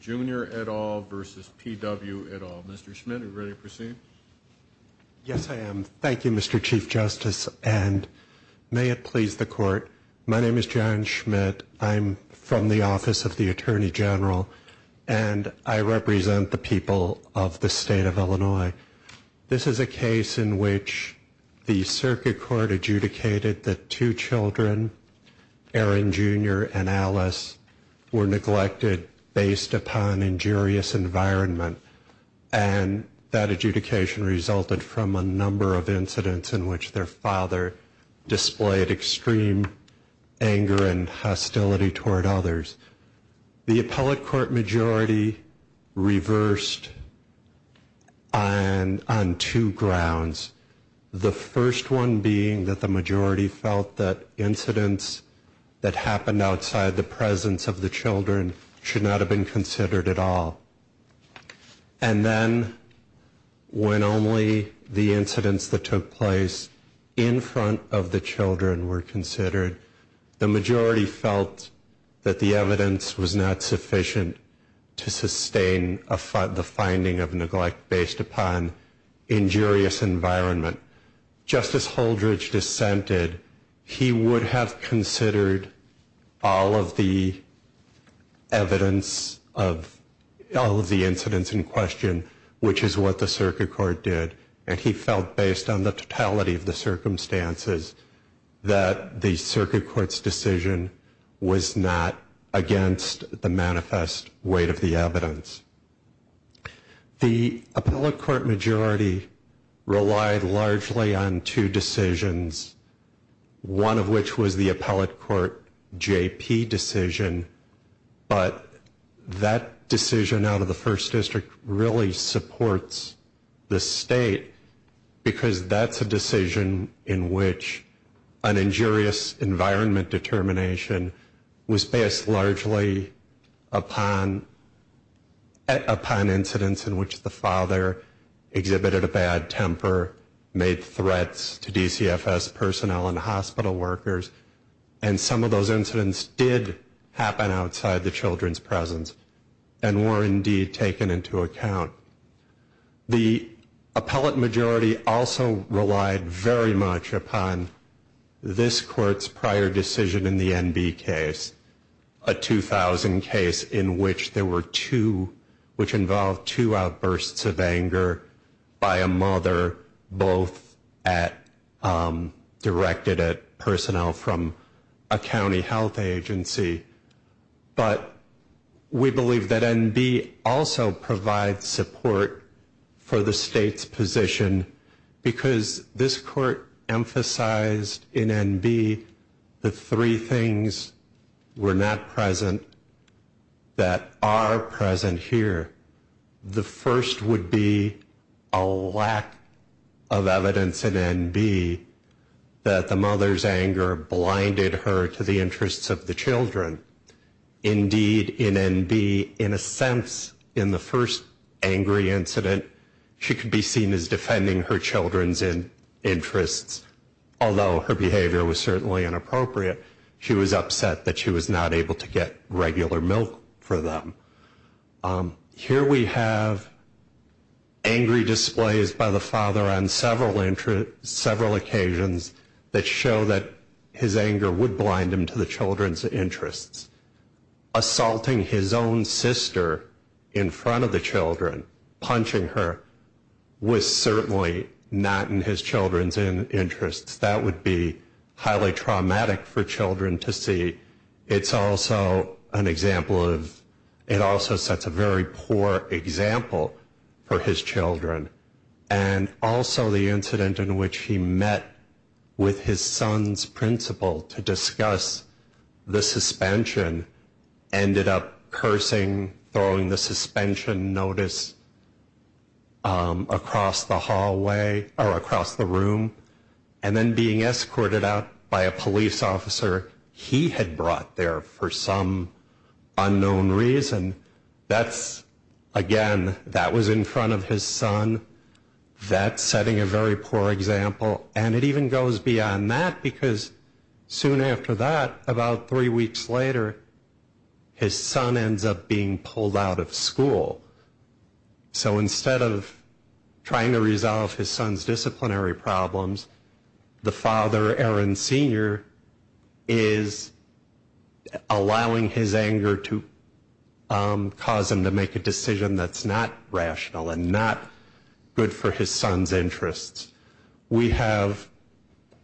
Junior at all versus P.W. at all. Mr. Schmidt, are you ready to proceed? Yes, I am. Thank you, Mr. Chief Justice, and may it please the court. My name is John Schmidt. I'm from the Office of the Attorney General, and I represent the people of the state of Illinois. Thank you. Thank you. Thank you. Thank you. Thank you. This is a case in which the circuit court adjudicated that two children, Aaron Junior and Alice, were neglected based upon injurious environment. And that adjudication resulted from a number of incidents in which their father displayed extreme anger and hostility toward others. The appellate court majority reversed on two grounds. The first one being that the majority felt that incidents that happened outside the presence of the children should not have been considered at all. And then when only the incidents that took place in front of the children were considered, the majority felt that the evidence was not sufficient to sustain the finding of neglect based upon injurious environment. Just as Holdridge dissented, he would have considered all of the evidence of all of the incidents in question, which is what the circuit court did. And he felt based on the totality of the circumstances that the circuit court's decision was not against the manifest weight of the evidence. The appellate court majority relied largely on two decisions, one of which was the appellate court JP decision. But that decision out of the first district really supports the state because that's a decision in which an injurious environment determination was based largely upon incidents in which the father exhibited a bad temper, made threats to DCFS personnel and hospital workers, and some of those incidents did happen outside the children's presence and were indeed taken into account. The appellate majority also relied very much upon this court's prior decision in the NB case, a 2000 case in which there were two, which involved two outbursts of anger by a mother, both directed at personnel from a county health agency. But we believe that NB also provides support for the state's position because this court emphasized in NB the three things were not present that are present here. The first would be a lack of evidence in NB that the mother's anger blinded her to the interests of the children. Indeed, in NB, in a sense, in the first angry incident, she could be seen as defending her children's interests. Although her behavior was certainly inappropriate, she was upset that she was not able to get regular milk for them. Here we have angry displays by the father on several occasions that show that his anger would blind him to the children's interests. Assaulting his own sister in front of the children, punching her, was certainly not in his children's interests. That would be highly traumatic for children to see. It's also an example of, it also sets a very poor example for his children. And also the incident in which he met with his son's principal to discuss the suspension, ended up cursing, throwing the suspension notice across the hallway, or across the room, and then being escorted out by a police officer. He had brought there for some unknown reason. That's, again, that was in front of his son. That's setting a very poor example. And it even goes beyond that because soon after that, about three weeks later, his son ends up being pulled out of school. So instead of trying to resolve his son's disciplinary problems, the father, Aaron Sr., is allowing his anger to cause him to make a decision that's not rational and not good for his son's interests. We have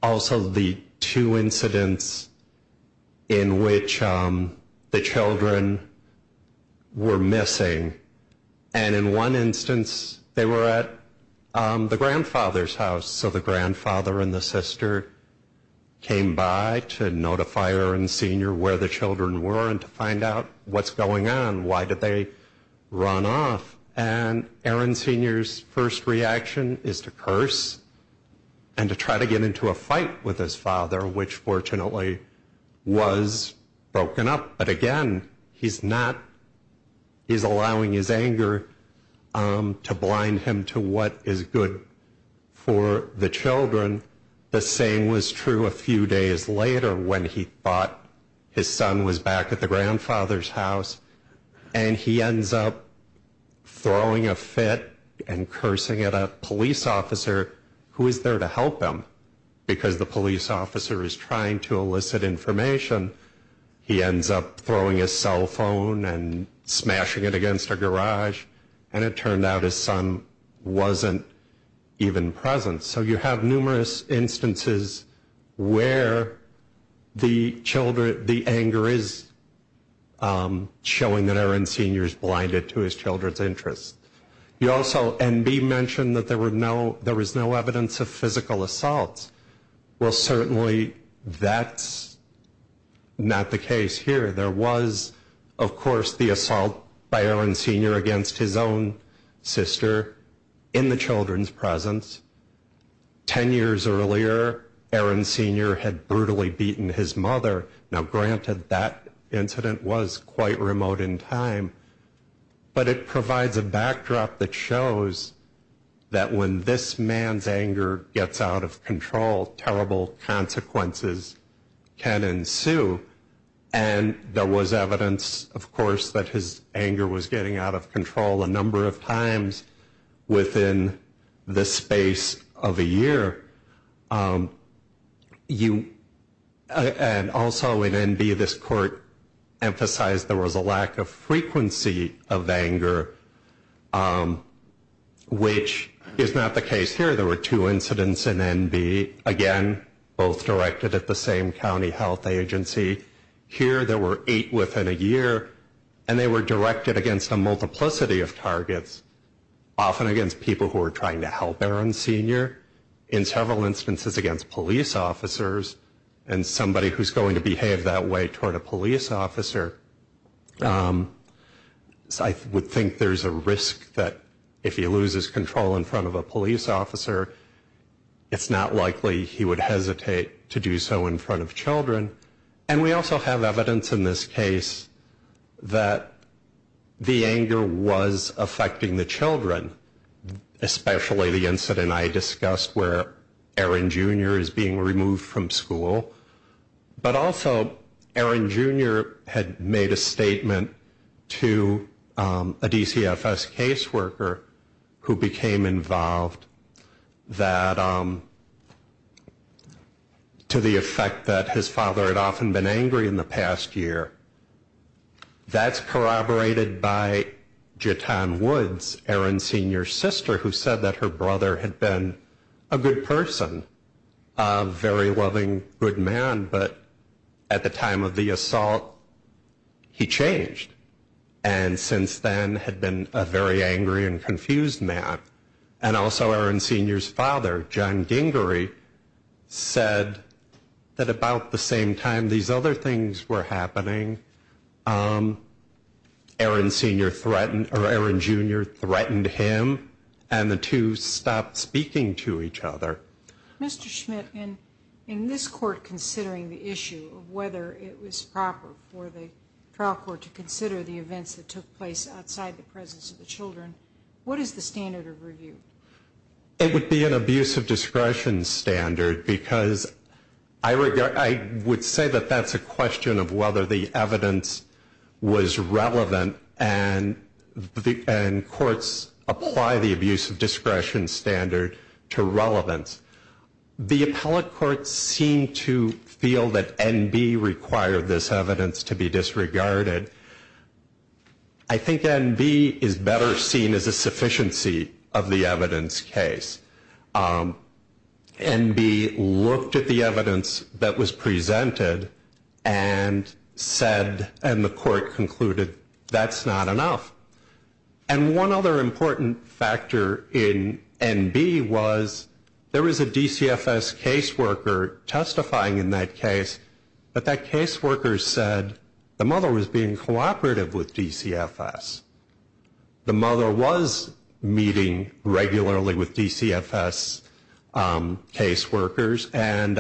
also the two incidents in which the children were missing. And in one instance, they were at the grandfather's house. So the grandfather and the sister came by to notify Aaron Sr. where the children were and to find out what's going on. Why did they run off? And Aaron Sr.'s first reaction is to curse and to try to get into a fight with his father, which fortunately was broken up. But again, he's not, he's allowing his anger to blind him to what is good for the children. The same was true a few days later when he thought his son was back at the grandfather's house. And he ends up throwing a fit and cursing at a police officer who is there to help him because the police officer is trying to elicit information. He ends up throwing his cell phone and smashing it against a garage. And it turned out his son wasn't even present. So you have numerous instances where the anger is showing that Aaron Sr. is blinded to his children's interests. You also, NB mentioned that there was no evidence of physical assaults. Well certainly that's not the case here. There was of course the assault by Aaron Sr. against his own sister in the children's presence. Ten years earlier, Aaron Sr. had brutally beaten his mother. Now granted, that incident was quite remote in time. But it provides a backdrop that shows that when this man's anger gets out of control, terrible consequences can ensue. And there was evidence of course that his anger was getting out of control a number of times within the space of a year. And also in NB, this court emphasized there was a lack of frequency of anger, which is not the case here. Here there were two incidents in NB. Again, both directed at the same county health agency. Here there were eight within a year. And they were directed against a multiplicity of targets. Often against people who were trying to help Aaron Sr. In several instances against police officers. And somebody who's going to behave that way toward a police officer. I would think there's a risk that if he loses control in front of a police officer, it's not likely he would hesitate to do so in front of children. And we also have evidence in this case that the anger was affecting the children. Especially the incident I discussed where Aaron Jr. is being removed from school. But also Aaron Jr. had made a statement to a DCFS case worker who became involved. That to the effect that his father had often been angry in the past year. That's corroborated by Jetan Woods, Aaron Sr.'s sister, who said that her brother had been a good person. A very loving, good man. But at the time of the assault, he changed. And since then had been a very angry and confused man. And also Aaron Sr.'s father, John Gingery, said that about the same time these other things were happening, Aaron Jr. threatened him and the two stopped speaking to each other. Mr. Schmidt, in this court considering the issue of whether it was proper for the trial court to consider the events that took place outside the presence of the children, what is the standard of review? It would be an abuse of discretion standard. Because I would say that that's a question of whether the evidence was relevant and courts apply the abuse of discretion standard to relevance. The appellate courts seem to feel that NB required this evidence to be disregarded. I think NB is better seen as a sufficiency of the evidence case. NB looked at the evidence that was presented and said, and the court concluded, that's not enough. And one other important factor in NB was there was a DCFS caseworker testifying in that case, but that caseworker said the mother was being cooperative with DCFS. The mother was meeting regularly with DCFS caseworkers, and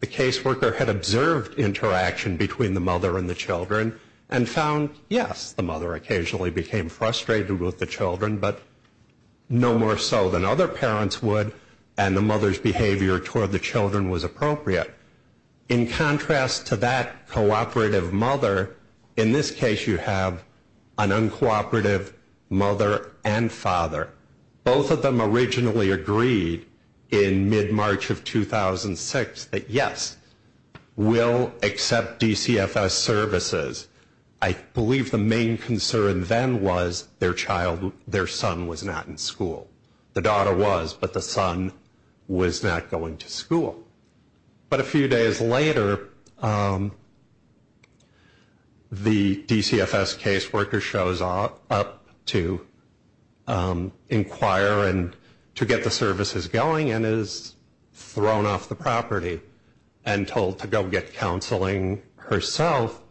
the caseworker had observed interaction between the mother and the children and found, yes, the mother occasionally became frustrated with the children, but no more so than other parents would, and the mother's behavior toward the children was appropriate. In contrast to that cooperative mother, in this case you have an uncooperative mother and father. Both of them originally agreed in mid-March of 2006 that, yes, we'll accept DCFS services. I believe the main concern then was their son was not in school. The daughter was, but the son was not going to school. But a few days later, the DCFS caseworker shows up to inquire and to get the services going and is thrown off the property and told to go get counseling herself.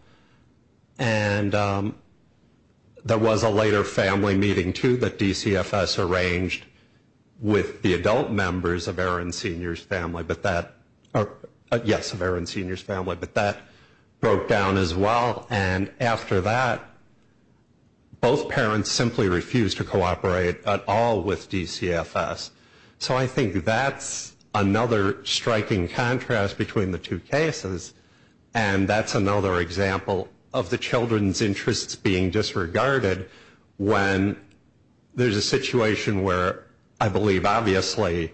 And there was a later family meeting, too, that DCFS arranged with the adult members of Aaron Sr.'s family, yes, of Aaron Sr.'s family, but that broke down as well. And after that, both parents simply refused to cooperate at all with DCFS. So I think that's another striking contrast between the two cases, and that's another example of the children's interests being disregarded when there's a situation where I believe obviously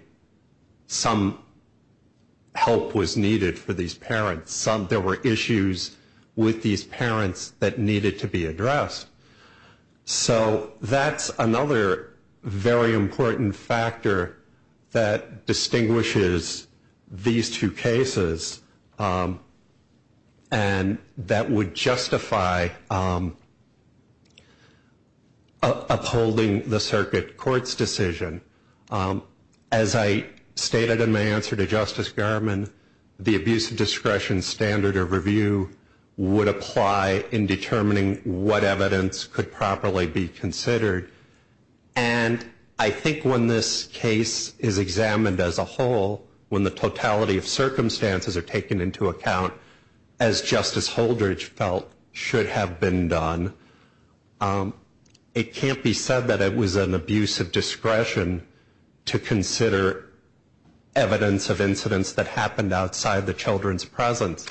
some help was needed for these parents. There were issues with these parents that needed to be addressed. So that's another very important factor that distinguishes these two cases and that would justify upholding the circuit court's decision. As I stated in my answer to Justice Garmon, the abuse of discretion standard of review would apply in determining what evidence could properly be considered. And I think when this case is examined as a whole, when the totality of circumstances are taken into account, as Justice Holdridge felt should have been done, it can't be said that it was an abuse of discretion to consider evidence of incidents that happened outside the children's presence,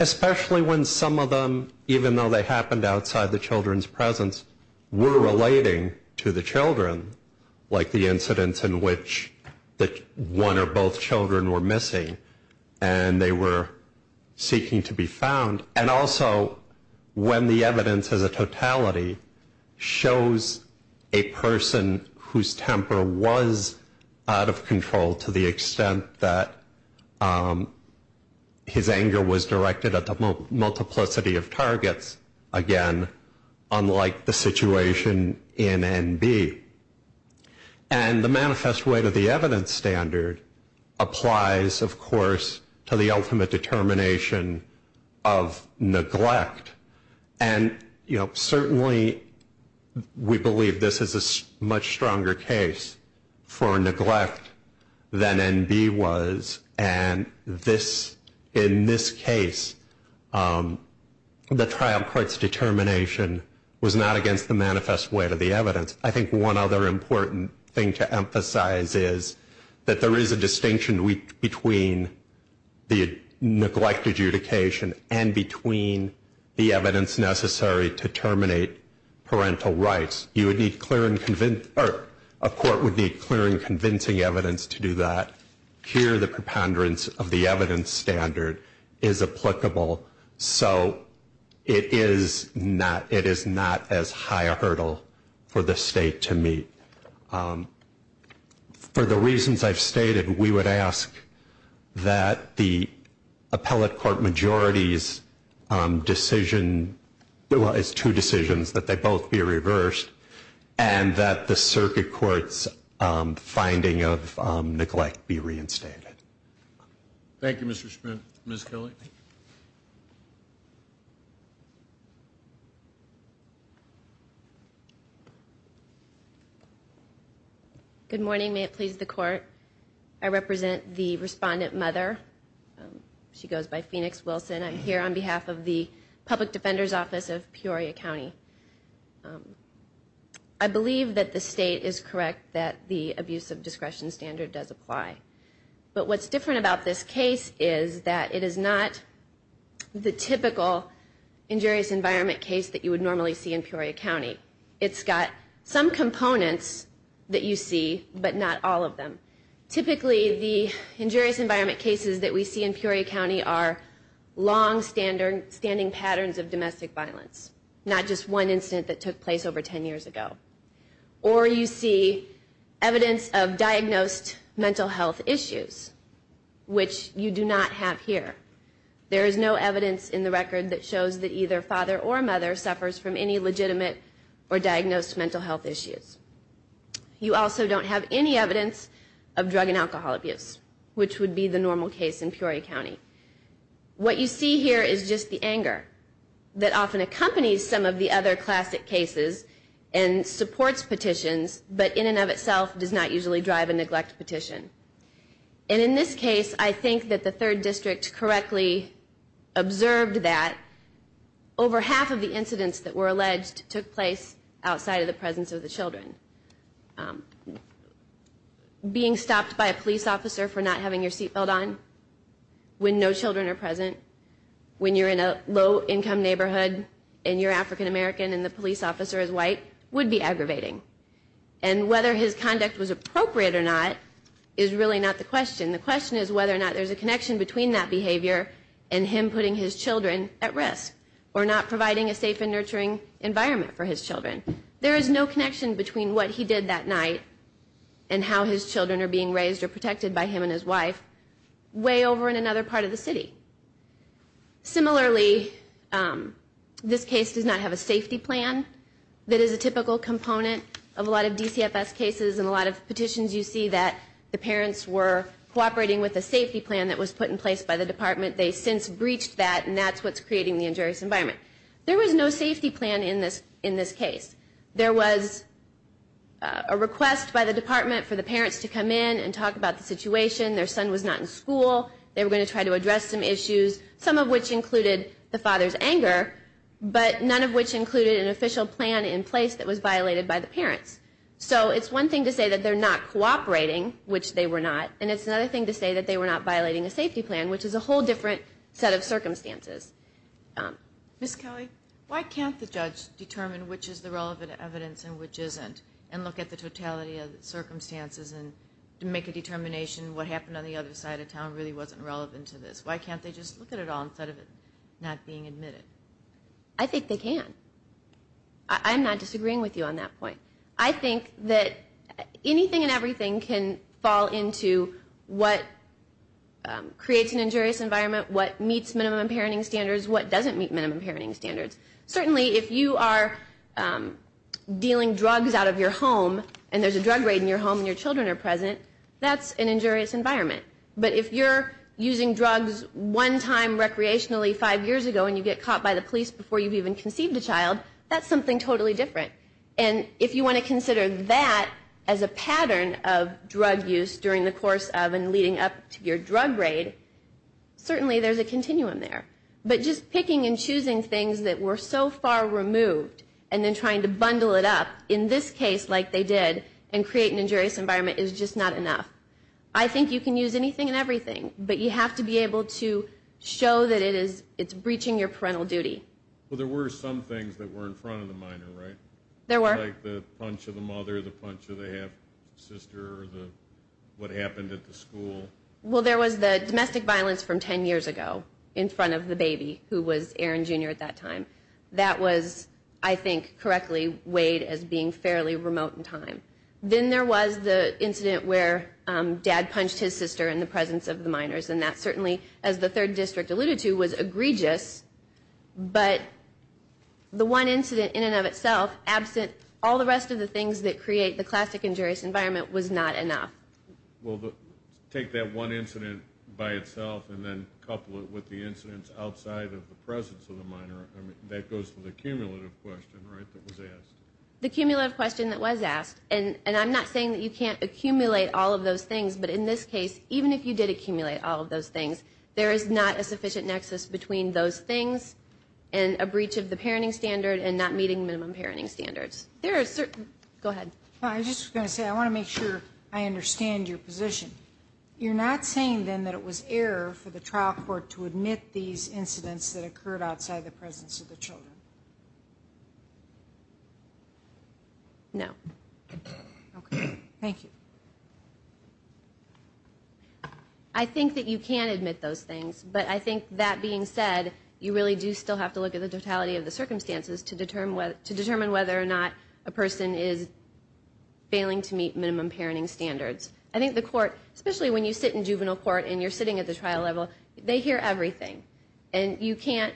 especially when some of them, even though they happened outside the children's presence, were relating to the children, like the incidents in which one or both children were missing and they were seeking to be found. And also when the evidence as a totality shows a person whose temper was out of control to the extent that his anger was directed at the multiplicity of targets, again, unlike the situation in NB. And the manifest way to the evidence standard applies, of course, to the ultimate determination of neglect. And certainly we believe this is a much stronger case for neglect than NB was. And in this case, the trial court's determination was not against the manifest way to the evidence. I think one other important thing to emphasize is that there is a distinction between the neglect adjudication and between the evidence necessary to terminate parental rights. A court would need clear and convincing evidence to do that. Here the preponderance of the evidence standard is applicable. So it is not as high a hurdle for the state to meet. For the reasons I've stated, we would ask that the appellate court majority's decision, well, it's two decisions, that they both be reversed and that the circuit court's finding of neglect be reinstated. Thank you, Mr. Schmidt. Ms. Kelly? Good morning. May it please the court. I represent the respondent mother. She goes by Phoenix Wilson. I'm here on behalf of the Public Defender's Office of Peoria County. I believe that the state is correct that the abuse of discretion standard does apply. But what's different about this case is that it is not the typical injurious environment case that you would normally see in Peoria County. It's got some components that you see, but not all of them. Typically the injurious environment cases that we see in Peoria County are long-standing patterns of domestic violence, not just one incident that took place over 10 years ago. Or you see evidence of diagnosed mental health issues, which you do not have here. There is no evidence in the record that shows that either father or mother suffers from any legitimate or diagnosed mental health issues. You also don't have any evidence of drug and alcohol abuse, which would be the normal case in Peoria County. What you see here is just the anger that often accompanies some of the other classic cases and supports petitions, but in and of itself does not usually drive a neglect petition. And in this case, I think that the 3rd District correctly observed that over half of the incidents that were alleged took place outside of the presence of the children. Being stopped by a police officer for not having your seatbelt on when no children are present, when you're in a low-income neighborhood and you're African American and the police officer is white, would be aggravating. And whether his conduct was appropriate or not is really not the question. The question is whether or not there's a connection between that behavior and him putting his children at risk, or not providing a safe and nurturing environment for his children. There is no connection between what he did that night and how his children are being raised or protected by him and his wife way over in another part of the city. Similarly, this case does not have a safety plan. That is a typical component of a lot of DCFS cases and a lot of petitions. You see that the parents were cooperating with a safety plan that was put in place by the department. They since breached that and that's what's creating the injurious environment. There was no safety plan in this case. There was a request by the department for the parents to come in and talk about the situation. Their son was not in school. They were going to try to address some issues, some of which included the father's anger, but none of which included an official plan in place that was violated by the parents. So it's one thing to say that they're not cooperating, which they were not, and it's another thing to say that they were not violating a safety plan, which is a whole different set of circumstances. Ms. Kelly, why can't the judge determine which is the relevant evidence and which isn't and look at the totality of the circumstances and make a determination what happened on the other side of town really wasn't relevant to this? Why can't they just look at it all instead of it not being admitted? I think they can. I'm not disagreeing with you on that point. I think that anything and everything can fall into what creates an injurious environment, what meets minimum parenting standards, what doesn't meet minimum parenting standards. Certainly, if you are dealing drugs out of your home and there's a drug raid in your home and your children are present, that's an injurious environment. But if you're using drugs one time recreationally five years ago and you get caught by the police before you've even conceived a child, that's something totally different. If you want to consider that as a pattern of drug use during the course of and leading up to your drug raid, certainly there's a continuum there. But just picking and choosing things that were so far removed and then trying to bundle it up in this case like they did and create an injurious environment is just not enough. I think you can use anything and everything, but you have to be able to show that it's breaching your parental duty. Well, there were some things that were in front of the minor, right? There were. Like the punch of the mother, the punch of the half-sister, what happened at the school. Well, there was the domestic violence from 10 years ago in front of the baby who was Aaron Jr. at that time. That was, I think, correctly weighed as being fairly remote in time. Then there was the incident where dad punched his sister in the presence of the minors. And that certainly, as the third district alluded to, was egregious. But the one incident in and of itself absent all the rest of the things that create the classic injurious environment was not enough. Well, take that one incident by itself and then couple it with the incidents outside of the presence of the minor. I mean, that goes to the cumulative question, right, that was asked. The cumulative question that was asked. And I'm not saying that you can't accumulate all of those things, but in this case, even if you did accumulate all of those things, there is not a sufficient nexus between those things and a breach of the parenting standard and not meeting minimum parenting standards. There are certain... Go ahead. I was just going to say, I want to make sure I understand your position. You're not saying, then, that it was error for the trial court to admit these incidents that occurred outside the presence of the children? No. Okay. Thank you. I think that you can admit those things, but I think that being said, you really do still have to look at the totality of the circumstances to determine whether or not a person is failing to meet minimum parenting standards. I think the court, especially when you sit in juvenile court and you're sitting at the trial level, they hear everything. And you can't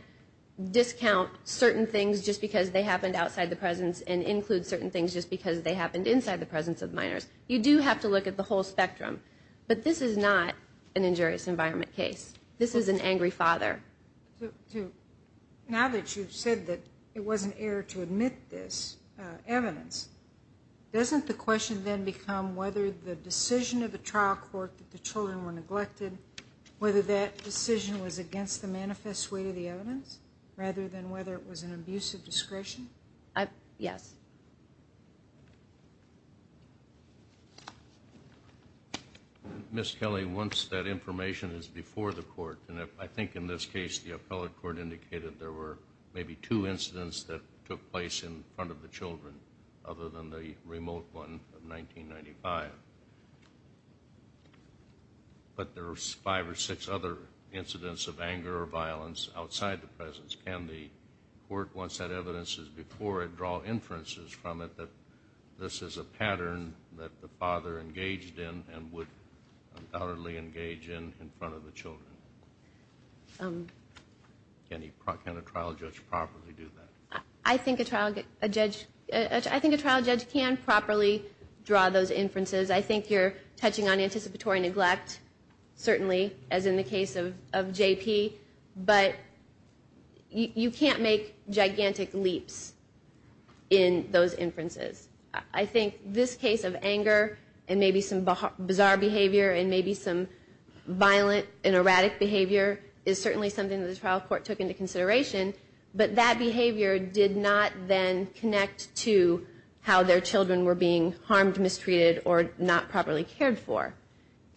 discount certain things just because they happened outside the presence and include certain things just because they happened inside the presence of minors. You do have to look at the whole spectrum. But this is not an injurious environment case. This is an angry father. Now that you've said that it was an error to admit this evidence, doesn't the question then become whether the decision of the trial court that the children were neglected, whether that decision was against the manifest weight of the evidence rather than whether it was an abuse of discretion? Yes. Ms. Kelly, once that information is before the court, and I think in this case the appellate court indicated there were maybe two incidents that took place in front of the children other than the remote one of 1995. But there were five or six other incidents of anger or violence outside the presence. Can the court, once that evidence is before it, draw inferences from it that this is a pattern that the father engaged in and would undoubtedly engage in in front of the children? Can a trial judge properly do that? I think a trial judge can properly draw those inferences. I think you're touching on anticipatory neglect, certainly, as in the case of JP. But you can't make gigantic leaps in those inferences. I think this case of anger and maybe some bizarre behavior and maybe some violent and erratic behavior is certainly something that the trial court took into consideration. But that behavior did not then connect to how their children were being harmed, mistreated, or not properly cared for.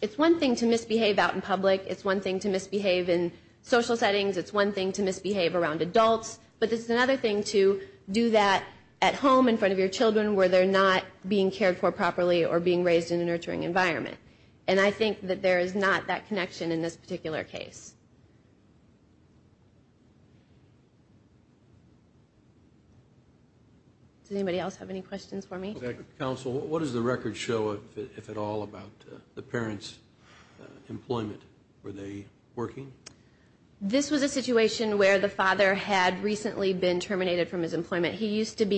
It's one thing to misbehave out in public. It's one thing to misbehave in social settings. It's one thing to misbehave around adults. But it's another thing to do that at home in front of your children where they're not being cared for properly or being raised in a nurturing environment. And I think that there is not that connection in this particular case. Does anybody else have any questions for me? Counsel, what does the record show, if at all, about the parents' employment? Were they working? This was a situation where the father had recently been terminated from his employment. He used to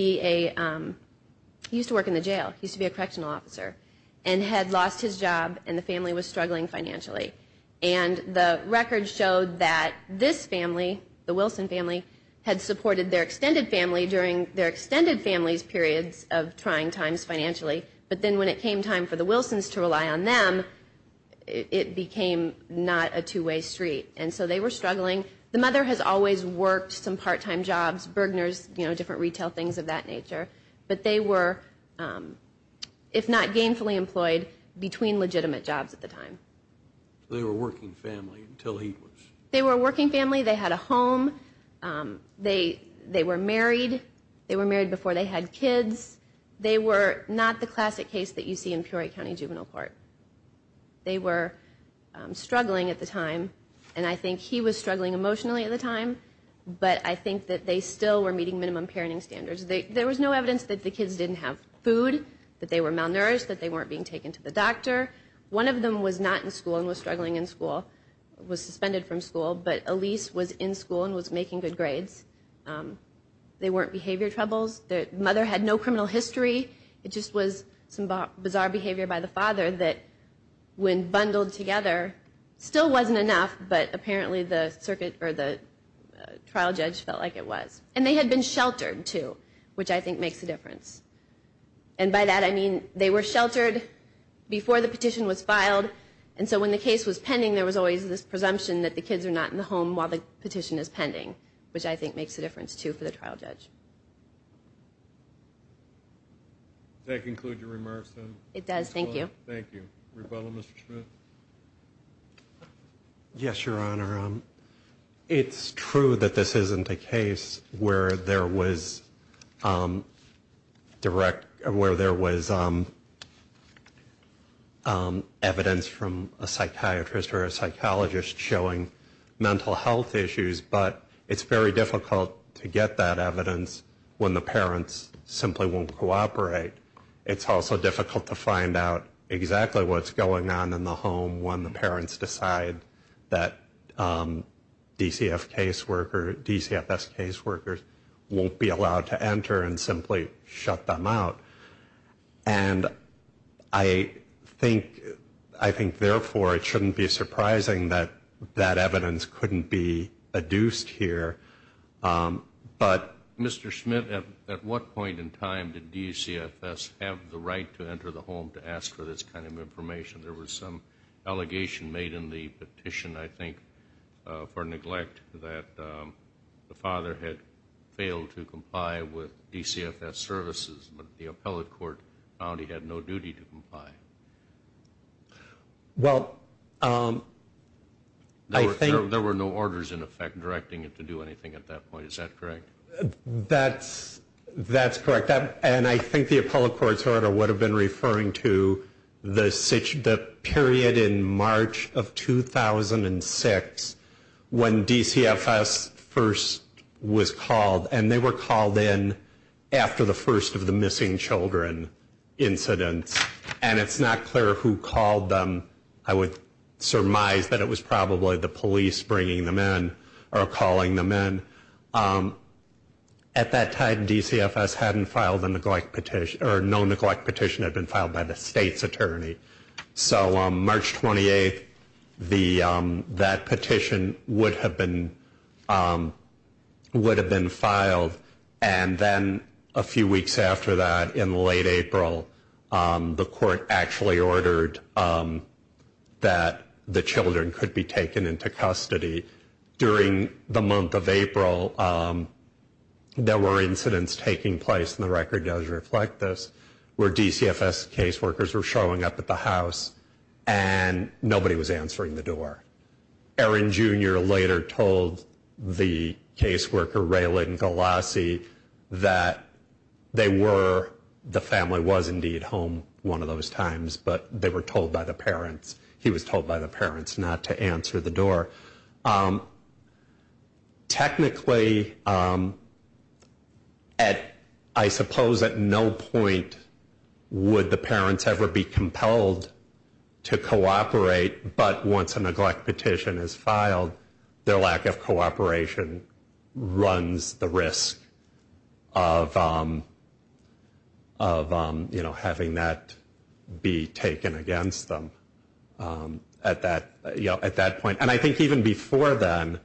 work in the jail. He used to be a correctional officer and had lost his job and the family was struggling financially. And the record showed that this family, the Wilson family, had supported their extended family during their extended family's periods of trying times financially. But then when it came time for the Wilsons to rely on them, it became not a two-way street. And so they were struggling. The mother has always worked some part-time jobs, burglars, you know, different retail things of that nature. But they were, if not gainfully employed, between legitimate jobs at the time. They were a working family until he was. They were a working family. They had a home. They were married. They were married before they had kids. They were not the classic case that you see in Peoria County Juvenile Court. They were struggling at the time. And I think he was struggling emotionally at the time, but I think that they still were meeting minimum parenting standards. There was no evidence that the kids didn't have food, that they were malnourished, that they weren't being taken to the doctor. One of them was not in school and was struggling in school, was suspended from school, but Elise was in school and was making good grades. They weren't behavior troubles. The mother had no criminal history. It just was some bizarre behavior by the father that when bundled together, still wasn't enough, but apparently the circuit trial judge felt like it was. And they had been sheltered, too, which I think makes a difference. And by that I mean they were sheltered before the petition was filed, and so when the case was pending, there was always this presumption that the kids are not in the home while the petition is pending, which I think makes a difference, too, for the trial judge. Does that conclude your remarks? It does. Thank you. Thank you. Rebella, Mr. Schmidt? Yes, Your Honor. It's true that this isn't a case where there was direct, where there was evidence from a psychiatrist or a psychologist showing mental health issues, but it's very difficult to get that evidence when the parents simply won't cooperate. It's also difficult to find out exactly what's going on in the home when the parents decide that DCF caseworker, DCFS caseworkers won't be allowed to enter and simply shut them out. And I think, I think therefore it shouldn't be surprising that that evidence couldn't be adduced here, but... Mr. Schmidt, at what point in time did DCFS have the right to enter the home to ask for this kind of information? There was some allegation made in the petition, I think, for neglect that the father had failed to comply with DCFS services, but the appellate court found he had no duty to comply. Well, I think... There were no orders in effect directing it to do anything at that point. Is that correct? That's, that's correct. And I think the appellate court's been referring to the period in March of 2006 when DCFS first was called and they were called in after the first of the missing children incidents. And it's not clear who called them. I would surmise that it was probably the police bringing them in or calling them in. At that time, DCFS hadn't filed a neglect petition that had been filed by the state's attorney. So, March 28th, that petition would have been, would have been filed. And then, a few weeks after that, in late April, the court actually ordered that the children could be taken into custody. During the month of April, there were incidents taking place, and the record does reflect this, where DCFS caseworkers were showing up at the house and nobody was answering the door. Aaron Junior later told the caseworker, Raylan Galassi, that they were, the family was indeed home one of those times, but they were told by the parents, he was told by the parents not to answer the door. Technically, at, I suppose at no point would the parents ever be compelled to cooperate, but once a neglect petition is filed, their lack of cooperation runs the risk of, of, you know, having that be taken against them at that, at that point. And I think even before then,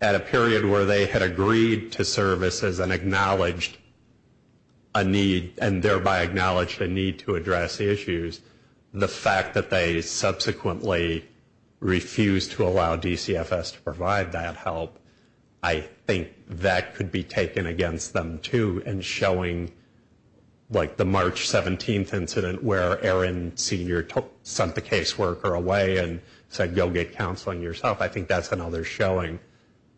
at a period where they had agreed to services and acknowledged a need, and thereby acknowledged a need to address issues, the fact that they subsequently refused to allow DCFS to provide that help, I think that could be taken against them too, and showing, like the March 17th incident where Aaron Senior sent the caseworker away and said, go get counseling yourself, I think that's another showing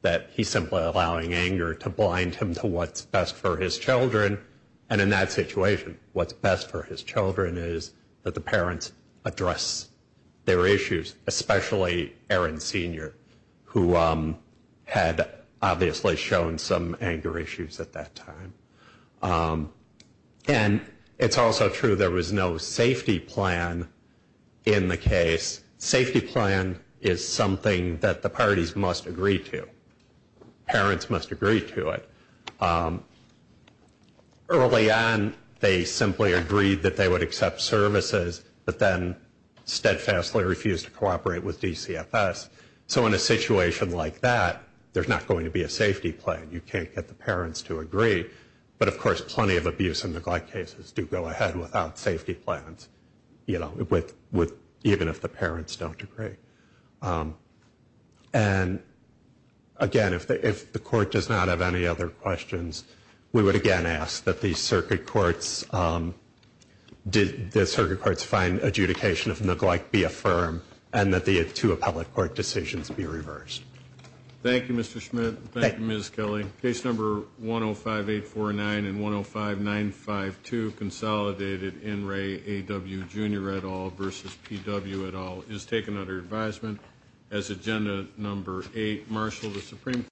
that he's simply allowing anger to blind him to what's best for his children, and in that situation, what's best for his children is that the parents address their issues, especially Aaron Senior, who had obviously shown some anger issues at that time. And it's also true there was no safety plan in the case. Safety plan is something that the parties must agree to. Parents must agree to it. Early on, they simply agreed that they would accept services, but then steadfastly refused to cooperate with DCFS, so in a situation like that, there's not going to be a safety plan. You can't get the parents to agree, but of course, plenty of abuse and neglect cases do go ahead without safety plans, you know, even if the parents don't agree. And, again, if the court does not have any other questions, we would again ask that the circuit courts find adjudication of neglect be affirmed and that the two appellate court decisions be reversed. Thank you, Mr. Schmidt. Thank you, Ms. Kelly. Case number 105-849 and 105-952 consolidated N. Ray A. W. Jr. et al. versus P. W. et al. is taken under advisement as agenda number 8. Marshal, the Supreme Court